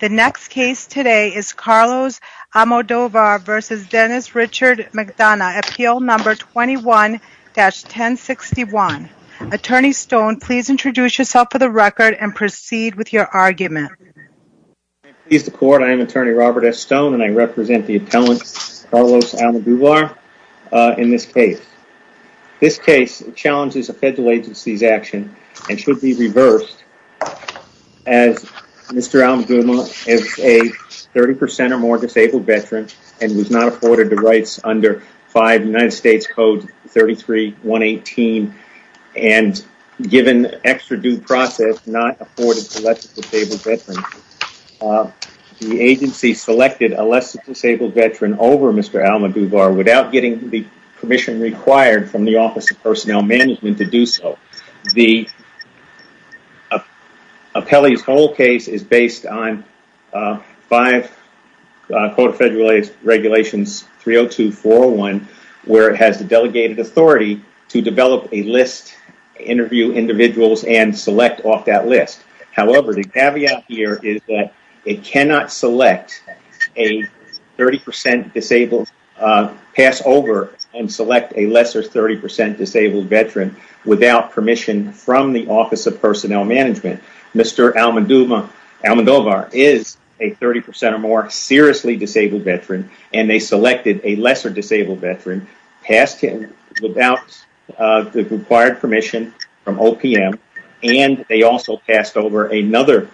The next case today is Carlos Amodovar v. Dennis Richard McDonough, Appeal No. 21-1061. Attorney Stone, please introduce yourself for the record and proceed with your argument. Please support, I am Attorney Robert S. Stone and I represent the appellant Carlos Amodovar in this case. This case challenges a federal agency's action and should be reversed as Mr. Amodovar is a 30% or more disabled veteran and was not afforded the rights under 5 United States Code 33-118 and given extra due process not afforded to less disabled veterans. The agency selected a less disabled veteran over Mr. Amodovar without getting the permission required from the Office of Personnel Management to do so. The appellee's whole case is based on 5 Code of Federal Regulations 302-401 where it has the delegated authority to develop a list, interview individuals and select off that list. However, the caveat here is that it cannot select a 30% disabled, pass over and select a lesser 30% disabled veteran without permission from the Office of Personnel Management. Mr. Amodovar is a 30% or more seriously disabled veteran and they selected a lesser disabled veteran, passed him without the required permission from OPM and they also passed over another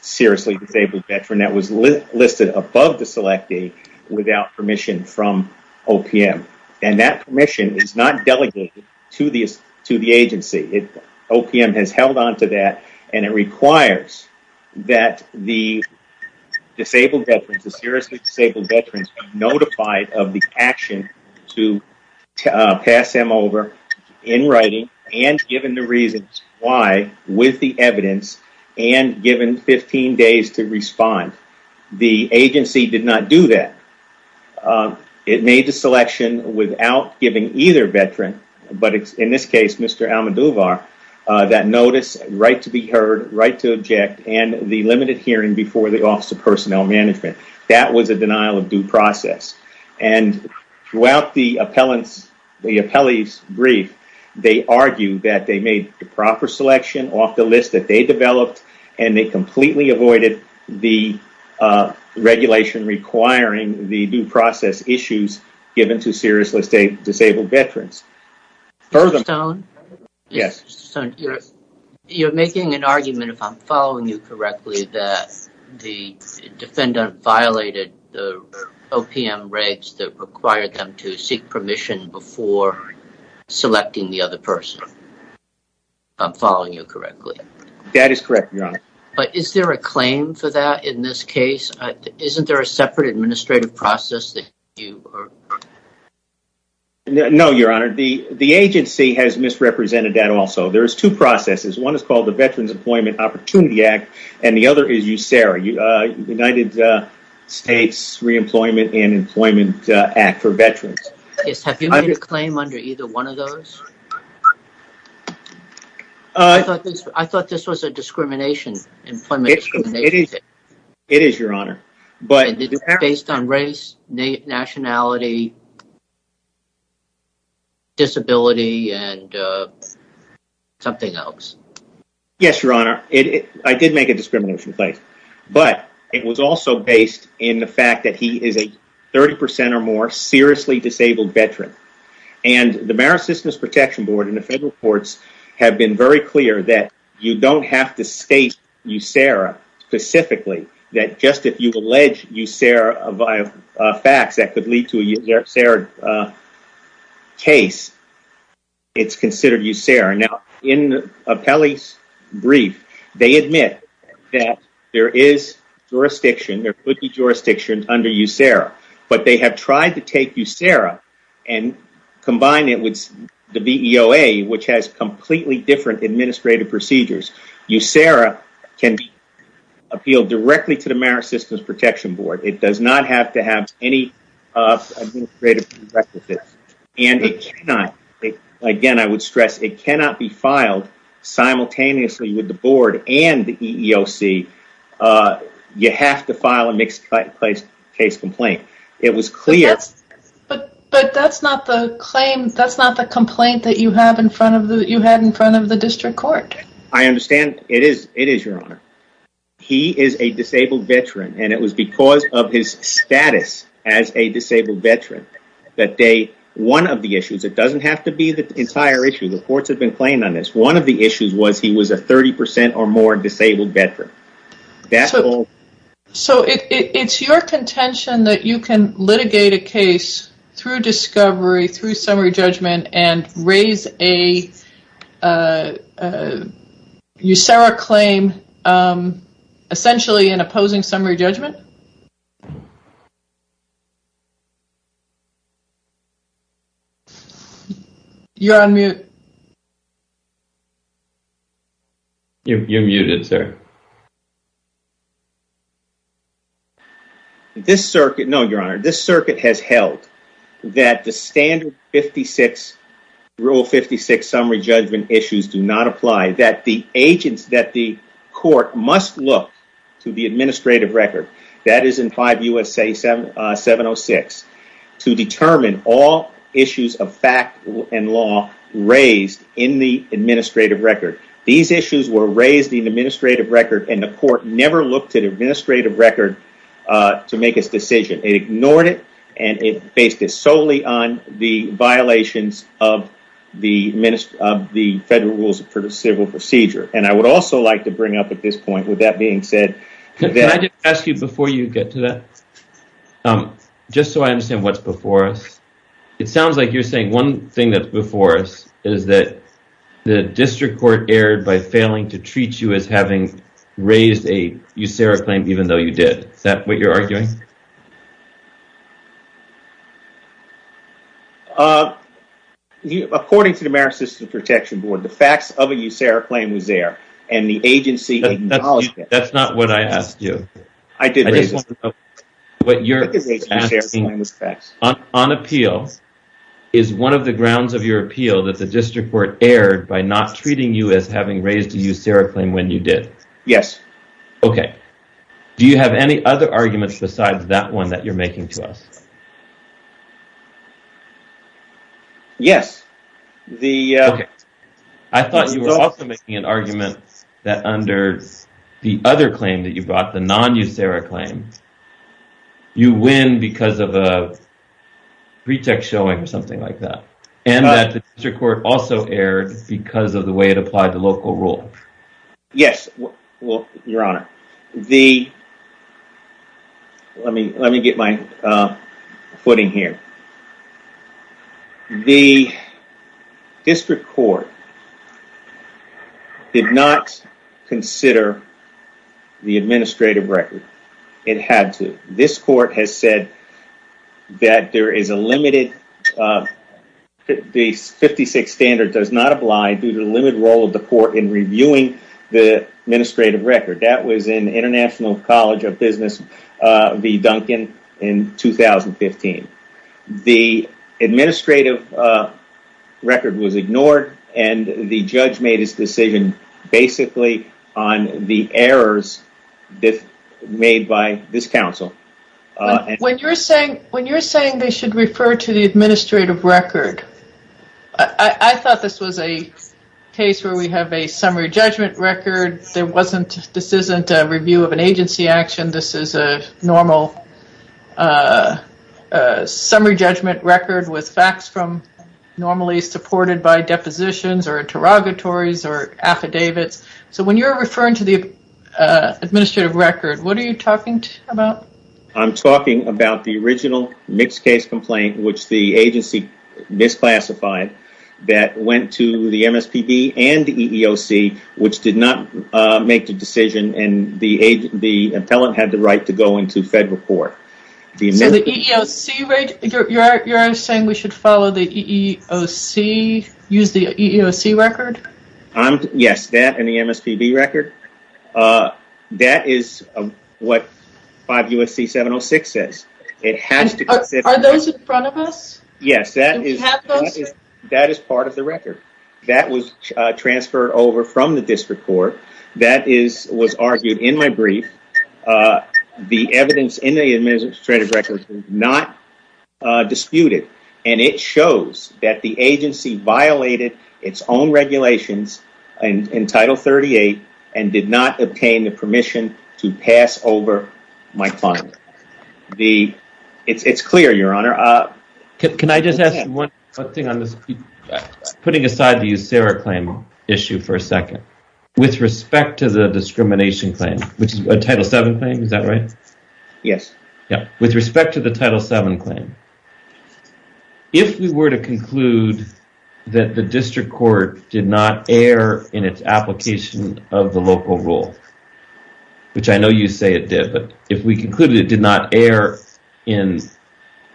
seriously disabled veteran that was listed above the selectee without permission from OPM. That permission is not delegated to the agency. OPM has held onto that and it requires that the disabled veterans, the seriously disabled of the action to pass them over in writing and given the reasons why with the evidence and given 15 days to respond. The agency did not do that. It made the selection without giving either veteran, but in this case Mr. Amodovar, that notice, right to be heard, right to object and the limited hearing before the Office of Personnel Management. That was a denial of due process. Throughout the appellee's brief, they argued that they made the proper selection off the list that they developed and they completely avoided the regulation requiring the due process issues given to seriously disabled veterans. Mr. Stone, you're making an argument, if I'm following you correctly, that the defendant violated the OPM regs that required them to seek permission before selecting the other person. If I'm following you correctly. That is correct, Your Honor. But is there a claim for that in this case? Isn't there a separate administrative process that you are? No, Your Honor. The agency has misrepresented that also. There's two processes. One is called the Veterans Employment Opportunity Act and the other is USERRA. United States Reemployment and Employment Act for Veterans. Have you made a claim under either one of those? I thought this was a discrimination. It is, Your Honor. But based on race, nationality, disability and something else. Yes, Your Honor. I did make a discrimination claim. But it was also based in the fact that he is a 30% or more seriously disabled veteran. And the Marist Systems Protection Board and the federal courts have been very clear that you don't have to state USERRA specifically. That just if you allege USERRA via facts that could lead to a USERRA case, it's considered USERRA. In Apelli's brief, they admit that there is jurisdiction, there could be jurisdiction under USERRA. But they have tried to take USERRA and combine it with the VEOA, which has completely different administrative procedures. USERRA can appeal directly to the Marist Systems Protection Board. It does not have to have any administrative requisites. And it cannot, again, I would stress, it cannot be filed simultaneously with the board and the EEOC. You have to file a mixed-use case complaint. It was clear- But that's not the complaint that you had in front of the district court. I understand. It is, Your Honor. He is a disabled veteran. And it was because of his status as a disabled veteran that they, one of the issues, it doesn't have to be the entire issue, the courts have been playing on this, one of the issues was he was a 30% or more disabled veteran. So it's your contention that you can litigate a case through discovery, through summary judgment? You're on mute. You're muted, sir. This circuit, no, Your Honor, this circuit has held that the standard 56, Rule 56 summary judgment issues do not apply. The agents that the court must look to the administrative record, that is in 5 USA 706, to determine all issues of fact and law raised in the administrative record. These issues were raised in the administrative record and the court never looked at the administrative record to make its decision. It ignored it and it based it solely on the violations of the federal rules for the civil procedure. And I would also like to bring up at this point, with that being said, that I didn't ask you before you get to that, just so I understand what's before us. It sounds like you're saying one thing that's before us is that the district court erred by failing to treat you as having raised a USERRA claim, even though you did. Is that what you're arguing? According to the American System Protection Board, the facts of a USERRA claim was there and the agency acknowledged it. That's not what I asked you. I did. What you're asking, on appeal, is one of the grounds of your appeal that the district court erred by not treating you as having raised a USERRA claim when you did. Yes. Okay. Do you have any other arguments besides that one that you're making to us? Yes. Okay. I thought you were also making an argument that under the other claim that you brought, the non-USERRA claim, you win because of a pretext showing or something like that. And that the district court also erred because of the way it applied the local rule. Yes. Your Honor, let me get my footing here. The district court did not consider the administrative record. It had to. This court has said that the 56th standard does not apply due to the limited role of reviewing the administrative record. That was in International College of Business v. Duncan in 2015. The administrative record was ignored and the judge made his decision basically on the errors made by this counsel. When you're saying they should refer to the administrative record, I thought this was a case where we have a summary judgment record. This isn't a review of an agency action. This is a normal summary judgment record with facts from normally supported by depositions or interrogatories or affidavits. So when you're referring to the administrative record, what are you talking about? I'm talking about the original mixed case complaint which the agency misclassified that went to the MSPB and the EEOC which did not make the decision and the appellant had the right to go into federal court. So the EEOC, you're saying we should follow the EEOC, use the EEOC record? Yes, that and the MSPB record. That is what 5 U.S.C. 706 says. Are those in front of us? Yes. Do we have those? That is part of the record. That was transferred over from the district court. That was argued in my brief. The evidence in the administrative record was not disputed and it shows that the agency violated its own regulations in Title 38 and did not obtain the permission to pass over my client. It's clear, Your Honor. Can I just ask one thing on this, putting aside the USERRA claim issue for a second, with respect to the discrimination claim, which is a Title VII claim, is that right? Yes. With respect to the Title VII claim, if we were to conclude that the district court did not err in its application of the local rule, which I know you say it did, but if we concluded it did not err in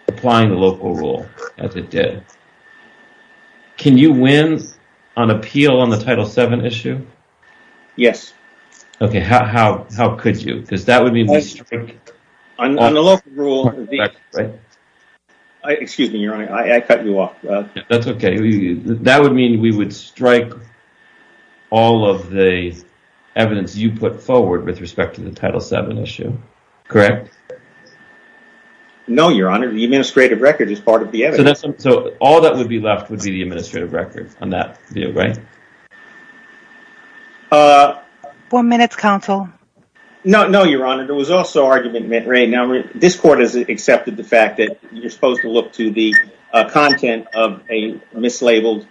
applying the local rule, as it did, can you win on appeal on the Title VII issue? Yes. Okay, how could you? Because that would mean we strike all of the evidence you put forward with respect to the No, Your Honor, the administrative record is part of the evidence. So all that would be left would be the administrative record on that, right? One minute, counsel. No, Your Honor, there was also argument made. Now, this court has accepted the fact that you're supposed to look to the content of a mislabeled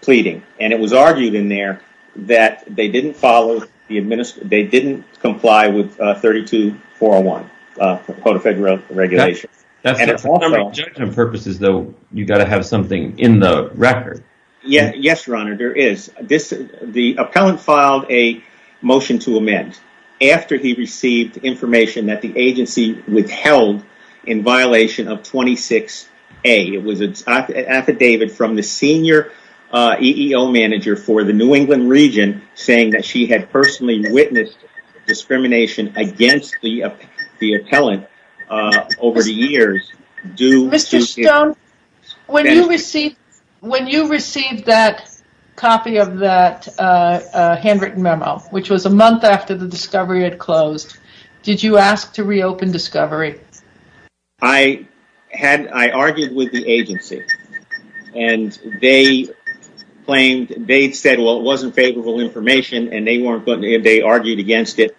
pleading, and it was argued in there that they didn't follow, they didn't comply with 32-401, the Code of Federal Regulations. That's it. For all number of judgment purposes, though, you've got to have something in the record. Yes, Your Honor, there is. The appellant filed a motion to amend after he received information that the agency withheld in violation of 26A. It was an affidavit from the senior EEO manager for the New England region saying that she had personally witnessed discrimination against the appellant over the years. Mr. Stone, when you received that copy of that handwritten memo, which was a month after the discovery had closed, did you ask to reopen discovery? I argued with the agency, and they said, well, it wasn't favorable information, and they argued against it.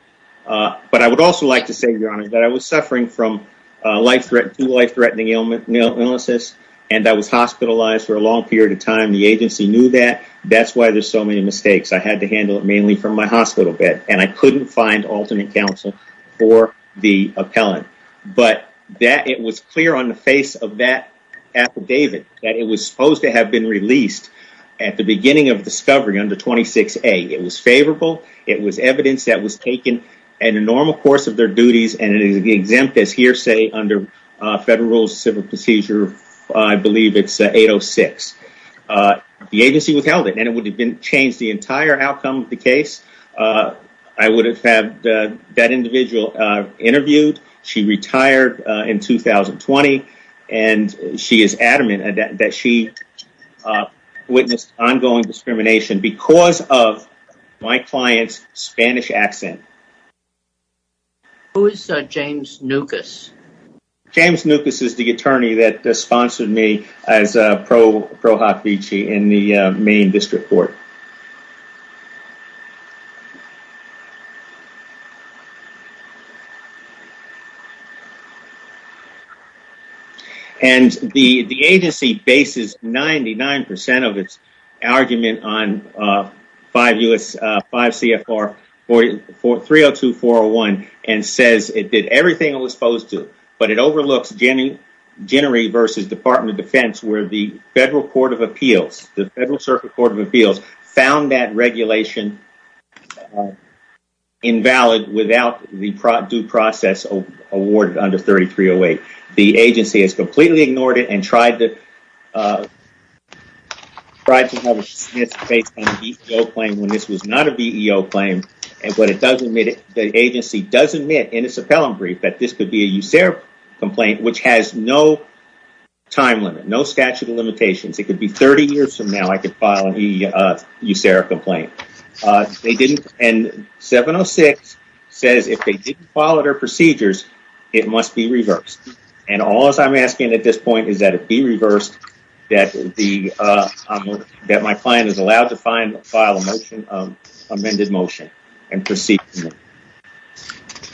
But I would also like to say, Your Honor, that I was suffering from two life-threatening illnesses, and I was hospitalized for a long period of time. The agency knew that. That's why there's so many mistakes. I had to handle it mainly from my hospital bed, and I couldn't find alternate counsel for the appellant. But it was clear on the face of that affidavit that it was supposed to have been released at the beginning of discovery under 26A. It was favorable. It was evidence that was taken in the normal course of their duties, and it is exempt as hearsay under federal civil procedure, I believe it's 806. The agency withheld it, and it would have changed the entire outcome of the case. I would have had that individual interviewed. She retired in 2020, and she is adamant that she witnessed ongoing discrimination because of my client's Spanish accent. Who is James Nucas? James Nucas is the attorney that sponsored me as Pro Hoc Vici in the main district court. And the agency bases 99% of its argument on 5 CFR 302-401, and says it did everything it was supposed to, but it overlooks Jennery v. Department of Defense, where the Federal Circuit Court of Appeals found that regulation invalid without the due process awarded under 3308. The agency has completely ignored it and tried to have it dismissed based on a VEO claim when this was not a VEO claim. The agency does admit in its appellant brief that this could be a USARE complaint, which has no time limit, no statute of limitations. It could be 30 years from now. I could file an USARE complaint. And 706 says if they didn't follow their procedures, it must be reversed. And all I'm asking at this point is that it be reversed, that my client is allowed to file an amended motion and proceed.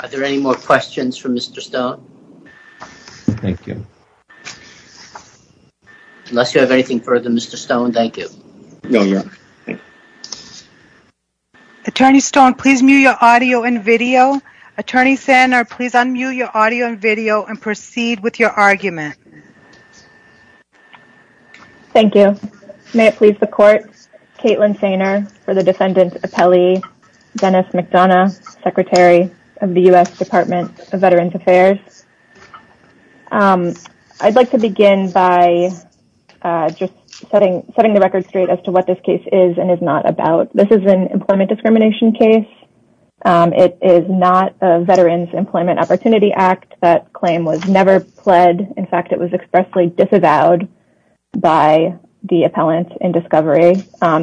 Are there any more questions for Mr. Stone? Thank you. Unless you have anything further, Mr. Stone, thank you. No, Your Honor. Attorney Stone, please mute your audio and video. Attorney Sainer, please unmute your audio and video and proceed with your argument. Thank you. May it please the Court, Kaitlin Sainer for the defendant appellee, Dennis McDonough, Secretary of the U.S. Department of Veterans Affairs. I'd like to begin by just setting the record straight as to what this case is and is not about. This is an employment discrimination case. It is not a Veterans Employment Opportunity Act. That claim was never pled. In fact, it was expressly disavowed by the appellant in discovery.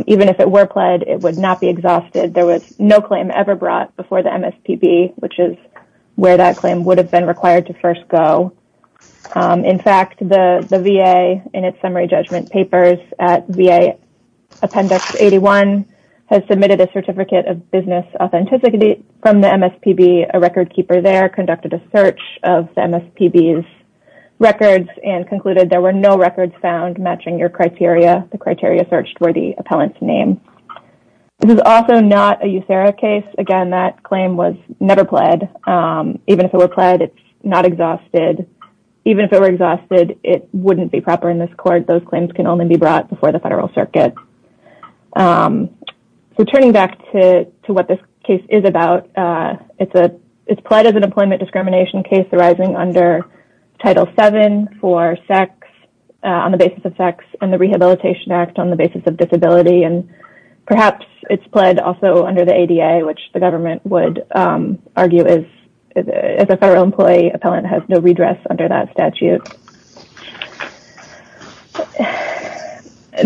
Even if it were pled, it would not be exhausted. There was no claim ever brought before the MSPB, which is where that claim would have been required to first go. In fact, the VA, in its summary judgment papers at VA Appendix 81, has submitted a Certificate of Business Authenticity from the MSPB. A recordkeeper there conducted a search of the MSPB's records and concluded there were no records found matching your criteria. The criteria searched were the appellant's name. This is also not a USERRA case. Again, that claim was never pled. Even if it were pled, it's not exhausted. Even if it were exhausted, it wouldn't be proper in this court. Those claims can only be brought before the federal circuit. So, turning back to what this case is about, it's pled as an employment discrimination case arising under Title VII for sex on the basis of sex and the Rehabilitation Act on the basis of disability. Perhaps it's pled also under the ADA, which the government would argue as a federal employee appellant has no redress under that statute.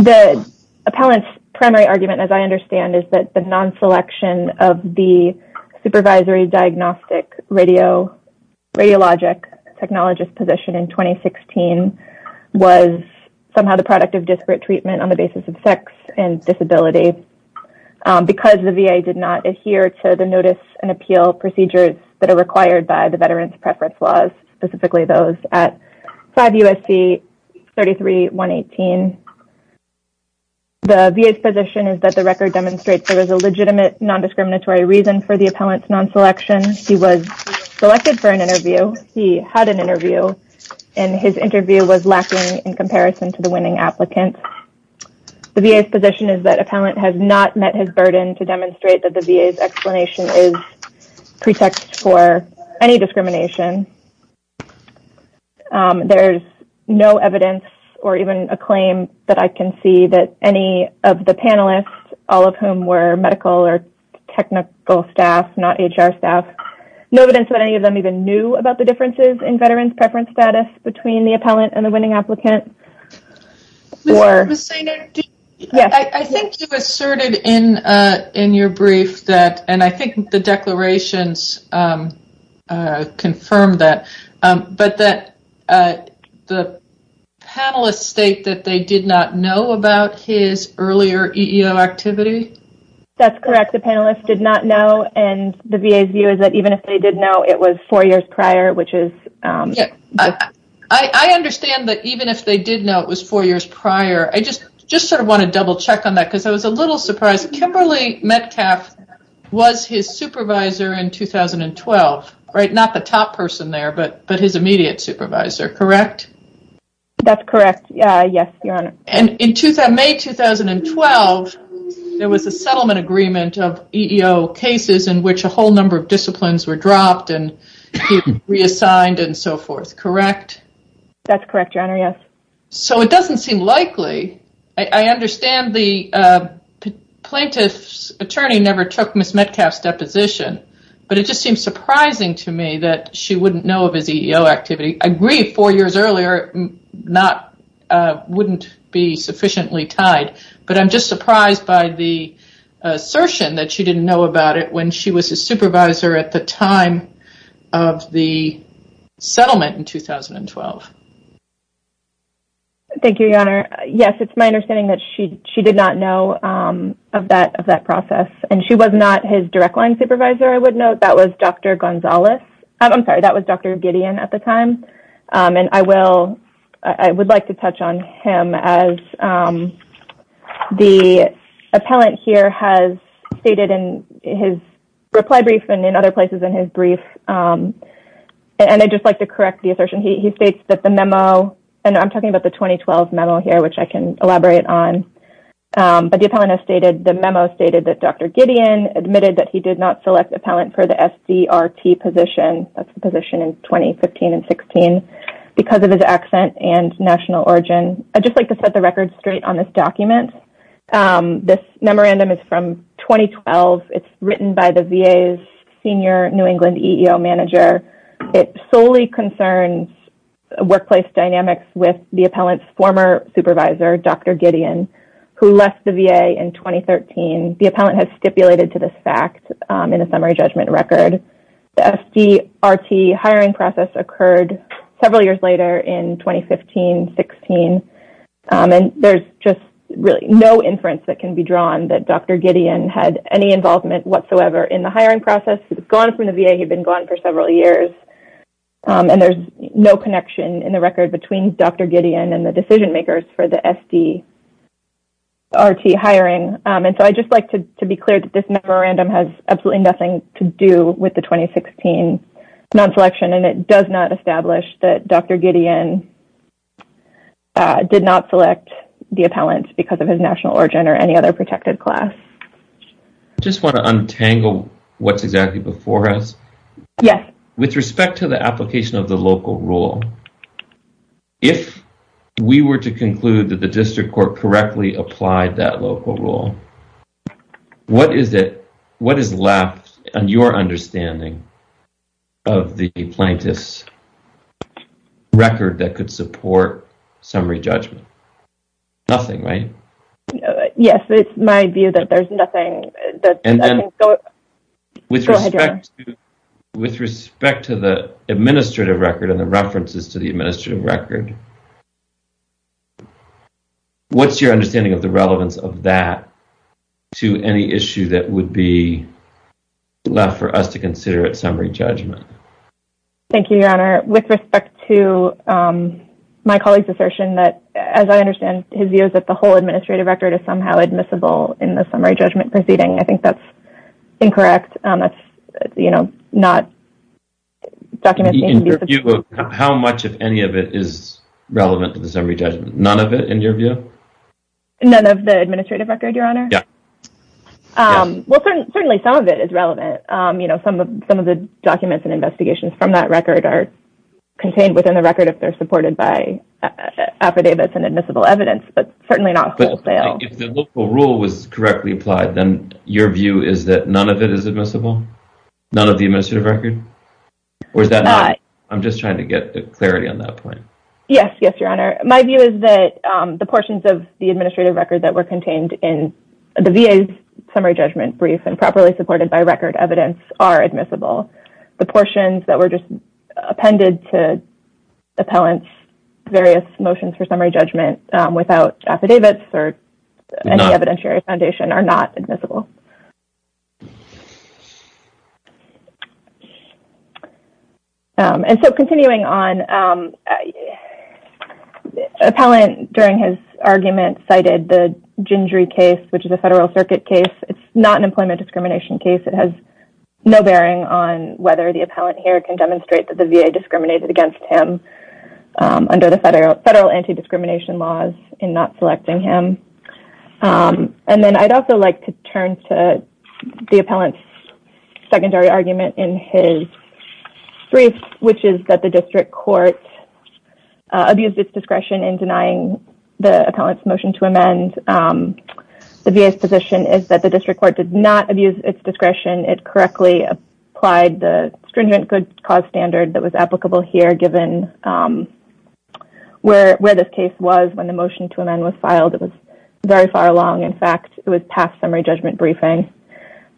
The appellant's primary argument, as I understand, is that the non-selection of the supervisory diagnostic radiologic technologist position in 2016 was somehow the product of disability because the VA did not adhere to the notice and appeal procedures that are required by the Veterans Preference Laws, specifically those at 5 U.S.C. 33-118. The VA's position is that the record demonstrates there was a legitimate non-discriminatory reason for the appellant's non-selection. He was selected for an interview. He had an interview, and his interview was lacking in comparison to the winning applicant. The VA's position is that appellant has not met his burden to demonstrate that the VA's explanation is pretext for any discrimination. There's no evidence or even a claim that I can see that any of the panelists, all of whom were medical or technical staff, not HR staff, no evidence that any of them even knew about the differences in veterans preference status between the appellant and the winning applicant. I think you asserted in your brief that, and I think the declarations confirmed that, but that the panelists state that they did not know about his earlier EEO activity. That's correct. The panelists did not know, and the VA's view is that even if they did know, it was four years prior, which is... I understand that even if they did know, it was four years prior. I just sort of want to double check on that because I was a little surprised. Kimberly Metcalf was his supervisor in 2012, right? Not the top person there, but his immediate supervisor, correct? That's correct. Yes, Your Honor. In May 2012, there was a settlement agreement of EEO cases in which a whole number of That's correct, Your Honor. Yes. It doesn't seem likely. I understand the plaintiff's attorney never took Ms. Metcalf's deposition, but it just seems surprising to me that she wouldn't know of his EEO activity. I agree, four years earlier wouldn't be sufficiently tied, but I'm just surprised by the assertion that she didn't know about it when she was his supervisor at the time of the settlement in 2012. Thank you, Your Honor. Yes, it's my understanding that she did not know of that process, and she was not his direct line supervisor, I would note. That was Dr. Gonzales. I'm sorry, that was Dr. Gideon at the time, and I would like to touch on him as the appellant here has stated in his reply brief and in other places in his brief, and I'd just like to correct the assertion. He states that the memo, and I'm talking about the 2012 memo here, which I can elaborate on, but the appellant has stated, the memo stated that Dr. Gideon admitted that he did not select appellant for the SDRT position, that's the position in 2015 and 16, because of his accent and national origin. I'd just like to set the record straight on this document. This memorandum is from 2012. It's written by the VA's senior New England EEO manager. It solely concerns workplace dynamics with the appellant's former supervisor, Dr. Gideon, who left the VA in 2013. The appellant has stipulated to this fact in a summary judgment record. The SDRT hiring process occurred several years later in 2015, 16, and there's just really no inference that can be drawn that Dr. Gideon had any involvement whatsoever in the hiring process. He's gone from the VA, he'd been gone for several years, and there's no connection in the record between Dr. Gideon and the decision makers for the SDRT hiring. I'd just like to be clear that this memorandum has absolutely nothing to do with the 2016 non-selection, and it does not establish that Dr. Gideon did not select the appellant because of his national origin or any other protected class. I just want to untangle what's exactly before us. Yes. With respect to the application of the local rule, if we were to conclude that the district court correctly applied that local rule, what is it, what is left on your understanding of the plaintiff's record that could support summary judgment? Nothing, right? Yes. It's my view that there's nothing. Go ahead, Your Honor. With respect to the administrative record and the references to the administrative record, what's your understanding of the relevance of that to any issue that would be left for us to consider at summary judgment? Thank you, Your Honor. With respect to my colleague's assertion that, as I understand, his view is that the whole administrative record is somehow admissible in the summary judgment proceeding. I think that's incorrect. That's, you know, not documenting. In your view, how much of any of it is relevant to the summary judgment? None of it, in your view? None of the administrative record, Your Honor? Yes. Well, certainly some of it is relevant. Some of the documents and investigations from that record are contained within the record if they're supported by affidavits and admissible evidence, but certainly not wholesale. If the local rule was correctly applied, then your view is that none of it is admissible? None of the administrative record? Or is that not? I'm just trying to get clarity on that point. Yes, Your Honor. My view is that the portions of the administrative record that were contained in the VA's summary judgment brief and properly supported by record evidence are admissible. The portions that were just appended to Appellant's various motions for summary judgment without affidavits or any evidentiary foundation are not admissible. And so, continuing on, Appellant, during his argument, cited the Gingery case, which is a federal circuit case. It's not an employment discrimination case. It has no bearing on whether the Appellant here can demonstrate that the VA discriminated against him under the federal anti-discrimination laws in not selecting him. And then I'd also like to turn to the Appellant's secondary argument in his brief, which is that the district court abused its discretion in denying the Appellant's motion to amend the VA's position is that the district court did not abuse its discretion. It correctly applied the stringent good cause standard that was applicable here given where this case was when the motion to amend was filed. It was very far along. In fact, it was past summary judgment briefing.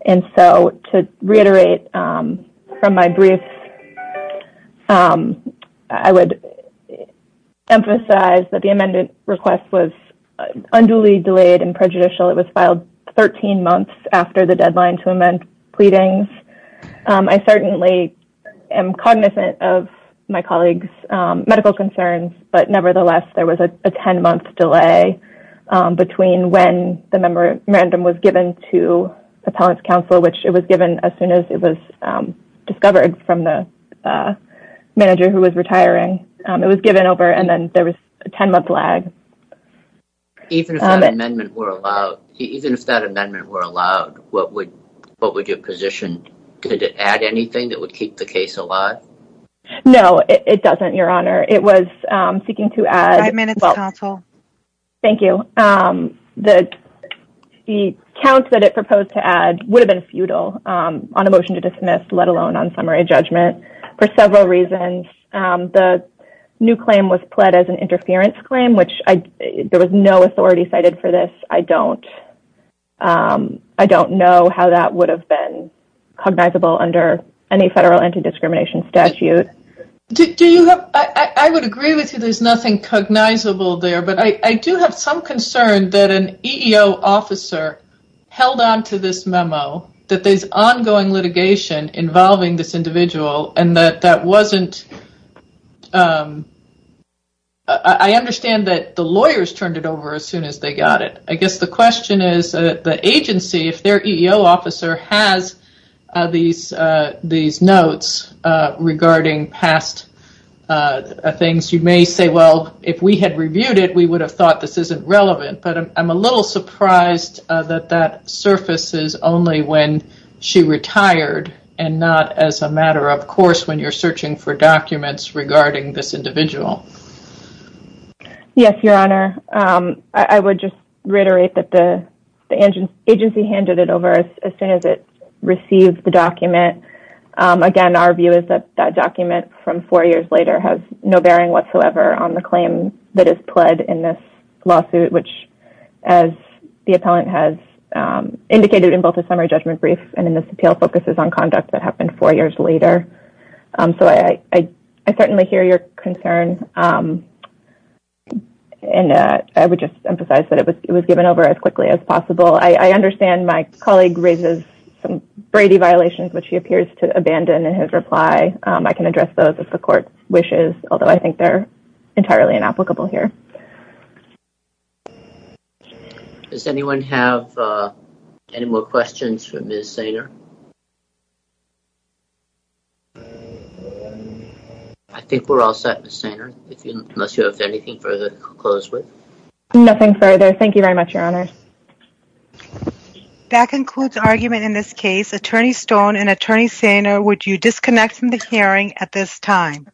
And so, to reiterate from my brief, I would emphasize that the amended request was unduly delayed and prejudicial. It was filed 13 months after the deadline to amend pleadings. I certainly am cognizant of my colleague's medical concerns, but nevertheless, there was a 10-month delay between when the memorandum was given to Appellant's counsel, which it was given as soon as it was discovered from the manager who was retiring. It was given over, and then there was a 10-month lag. Even if that amendment were allowed, what would your position, did it add anything that would keep the case alive? No, it doesn't, Your Honor. It was seeking to add… Five minutes, counsel. Thank you. The count that it proposed to add would have been futile on a motion to dismiss, let alone on summary judgment for several reasons. The new claim was pled as an interference claim, which there was no authority cited for this. I don't know how that would have been cognizable under any federal anti-discrimination statute. I would agree with you there's nothing cognizable there, but I do have some concern that an EEO officer held onto this memo, that there's ongoing litigation involving this individual, and that that wasn't… I understand that the lawyers turned it over as soon as they got it. I guess the question is, the agency, if their EEO officer has these notes regarding past things, you may say, well, if we had reviewed it, we would have thought this isn't relevant, but I'm a little surprised that that surfaces only when she retired and not as a matter of course when you're searching for documents regarding this individual. Yes, Your Honor. I would just reiterate that the agency handed it over as soon as it received the document. Again, our view is that that document from four years later has no bearing whatsoever on the claim that is pled in this lawsuit, which, as the appellant has indicated in both the summary judgment brief and in this appeal, focuses on conduct that happened four years later. I certainly hear your concern, and I would just emphasize that it was given over as quickly as possible. I understand my colleague raises some Brady violations, which he appears to abandon in his reply. I can address those if the court wishes, although I think they're entirely inapplicable here. Does anyone have any more questions for Ms. Sater? I think we're all set, Ms. Sater, unless you have anything further to close with. Nothing further. Thank you very much, Your Honor. That concludes argument in this case. Attorney Stone and Attorney Sater, would you disconnect from the hearing at this time?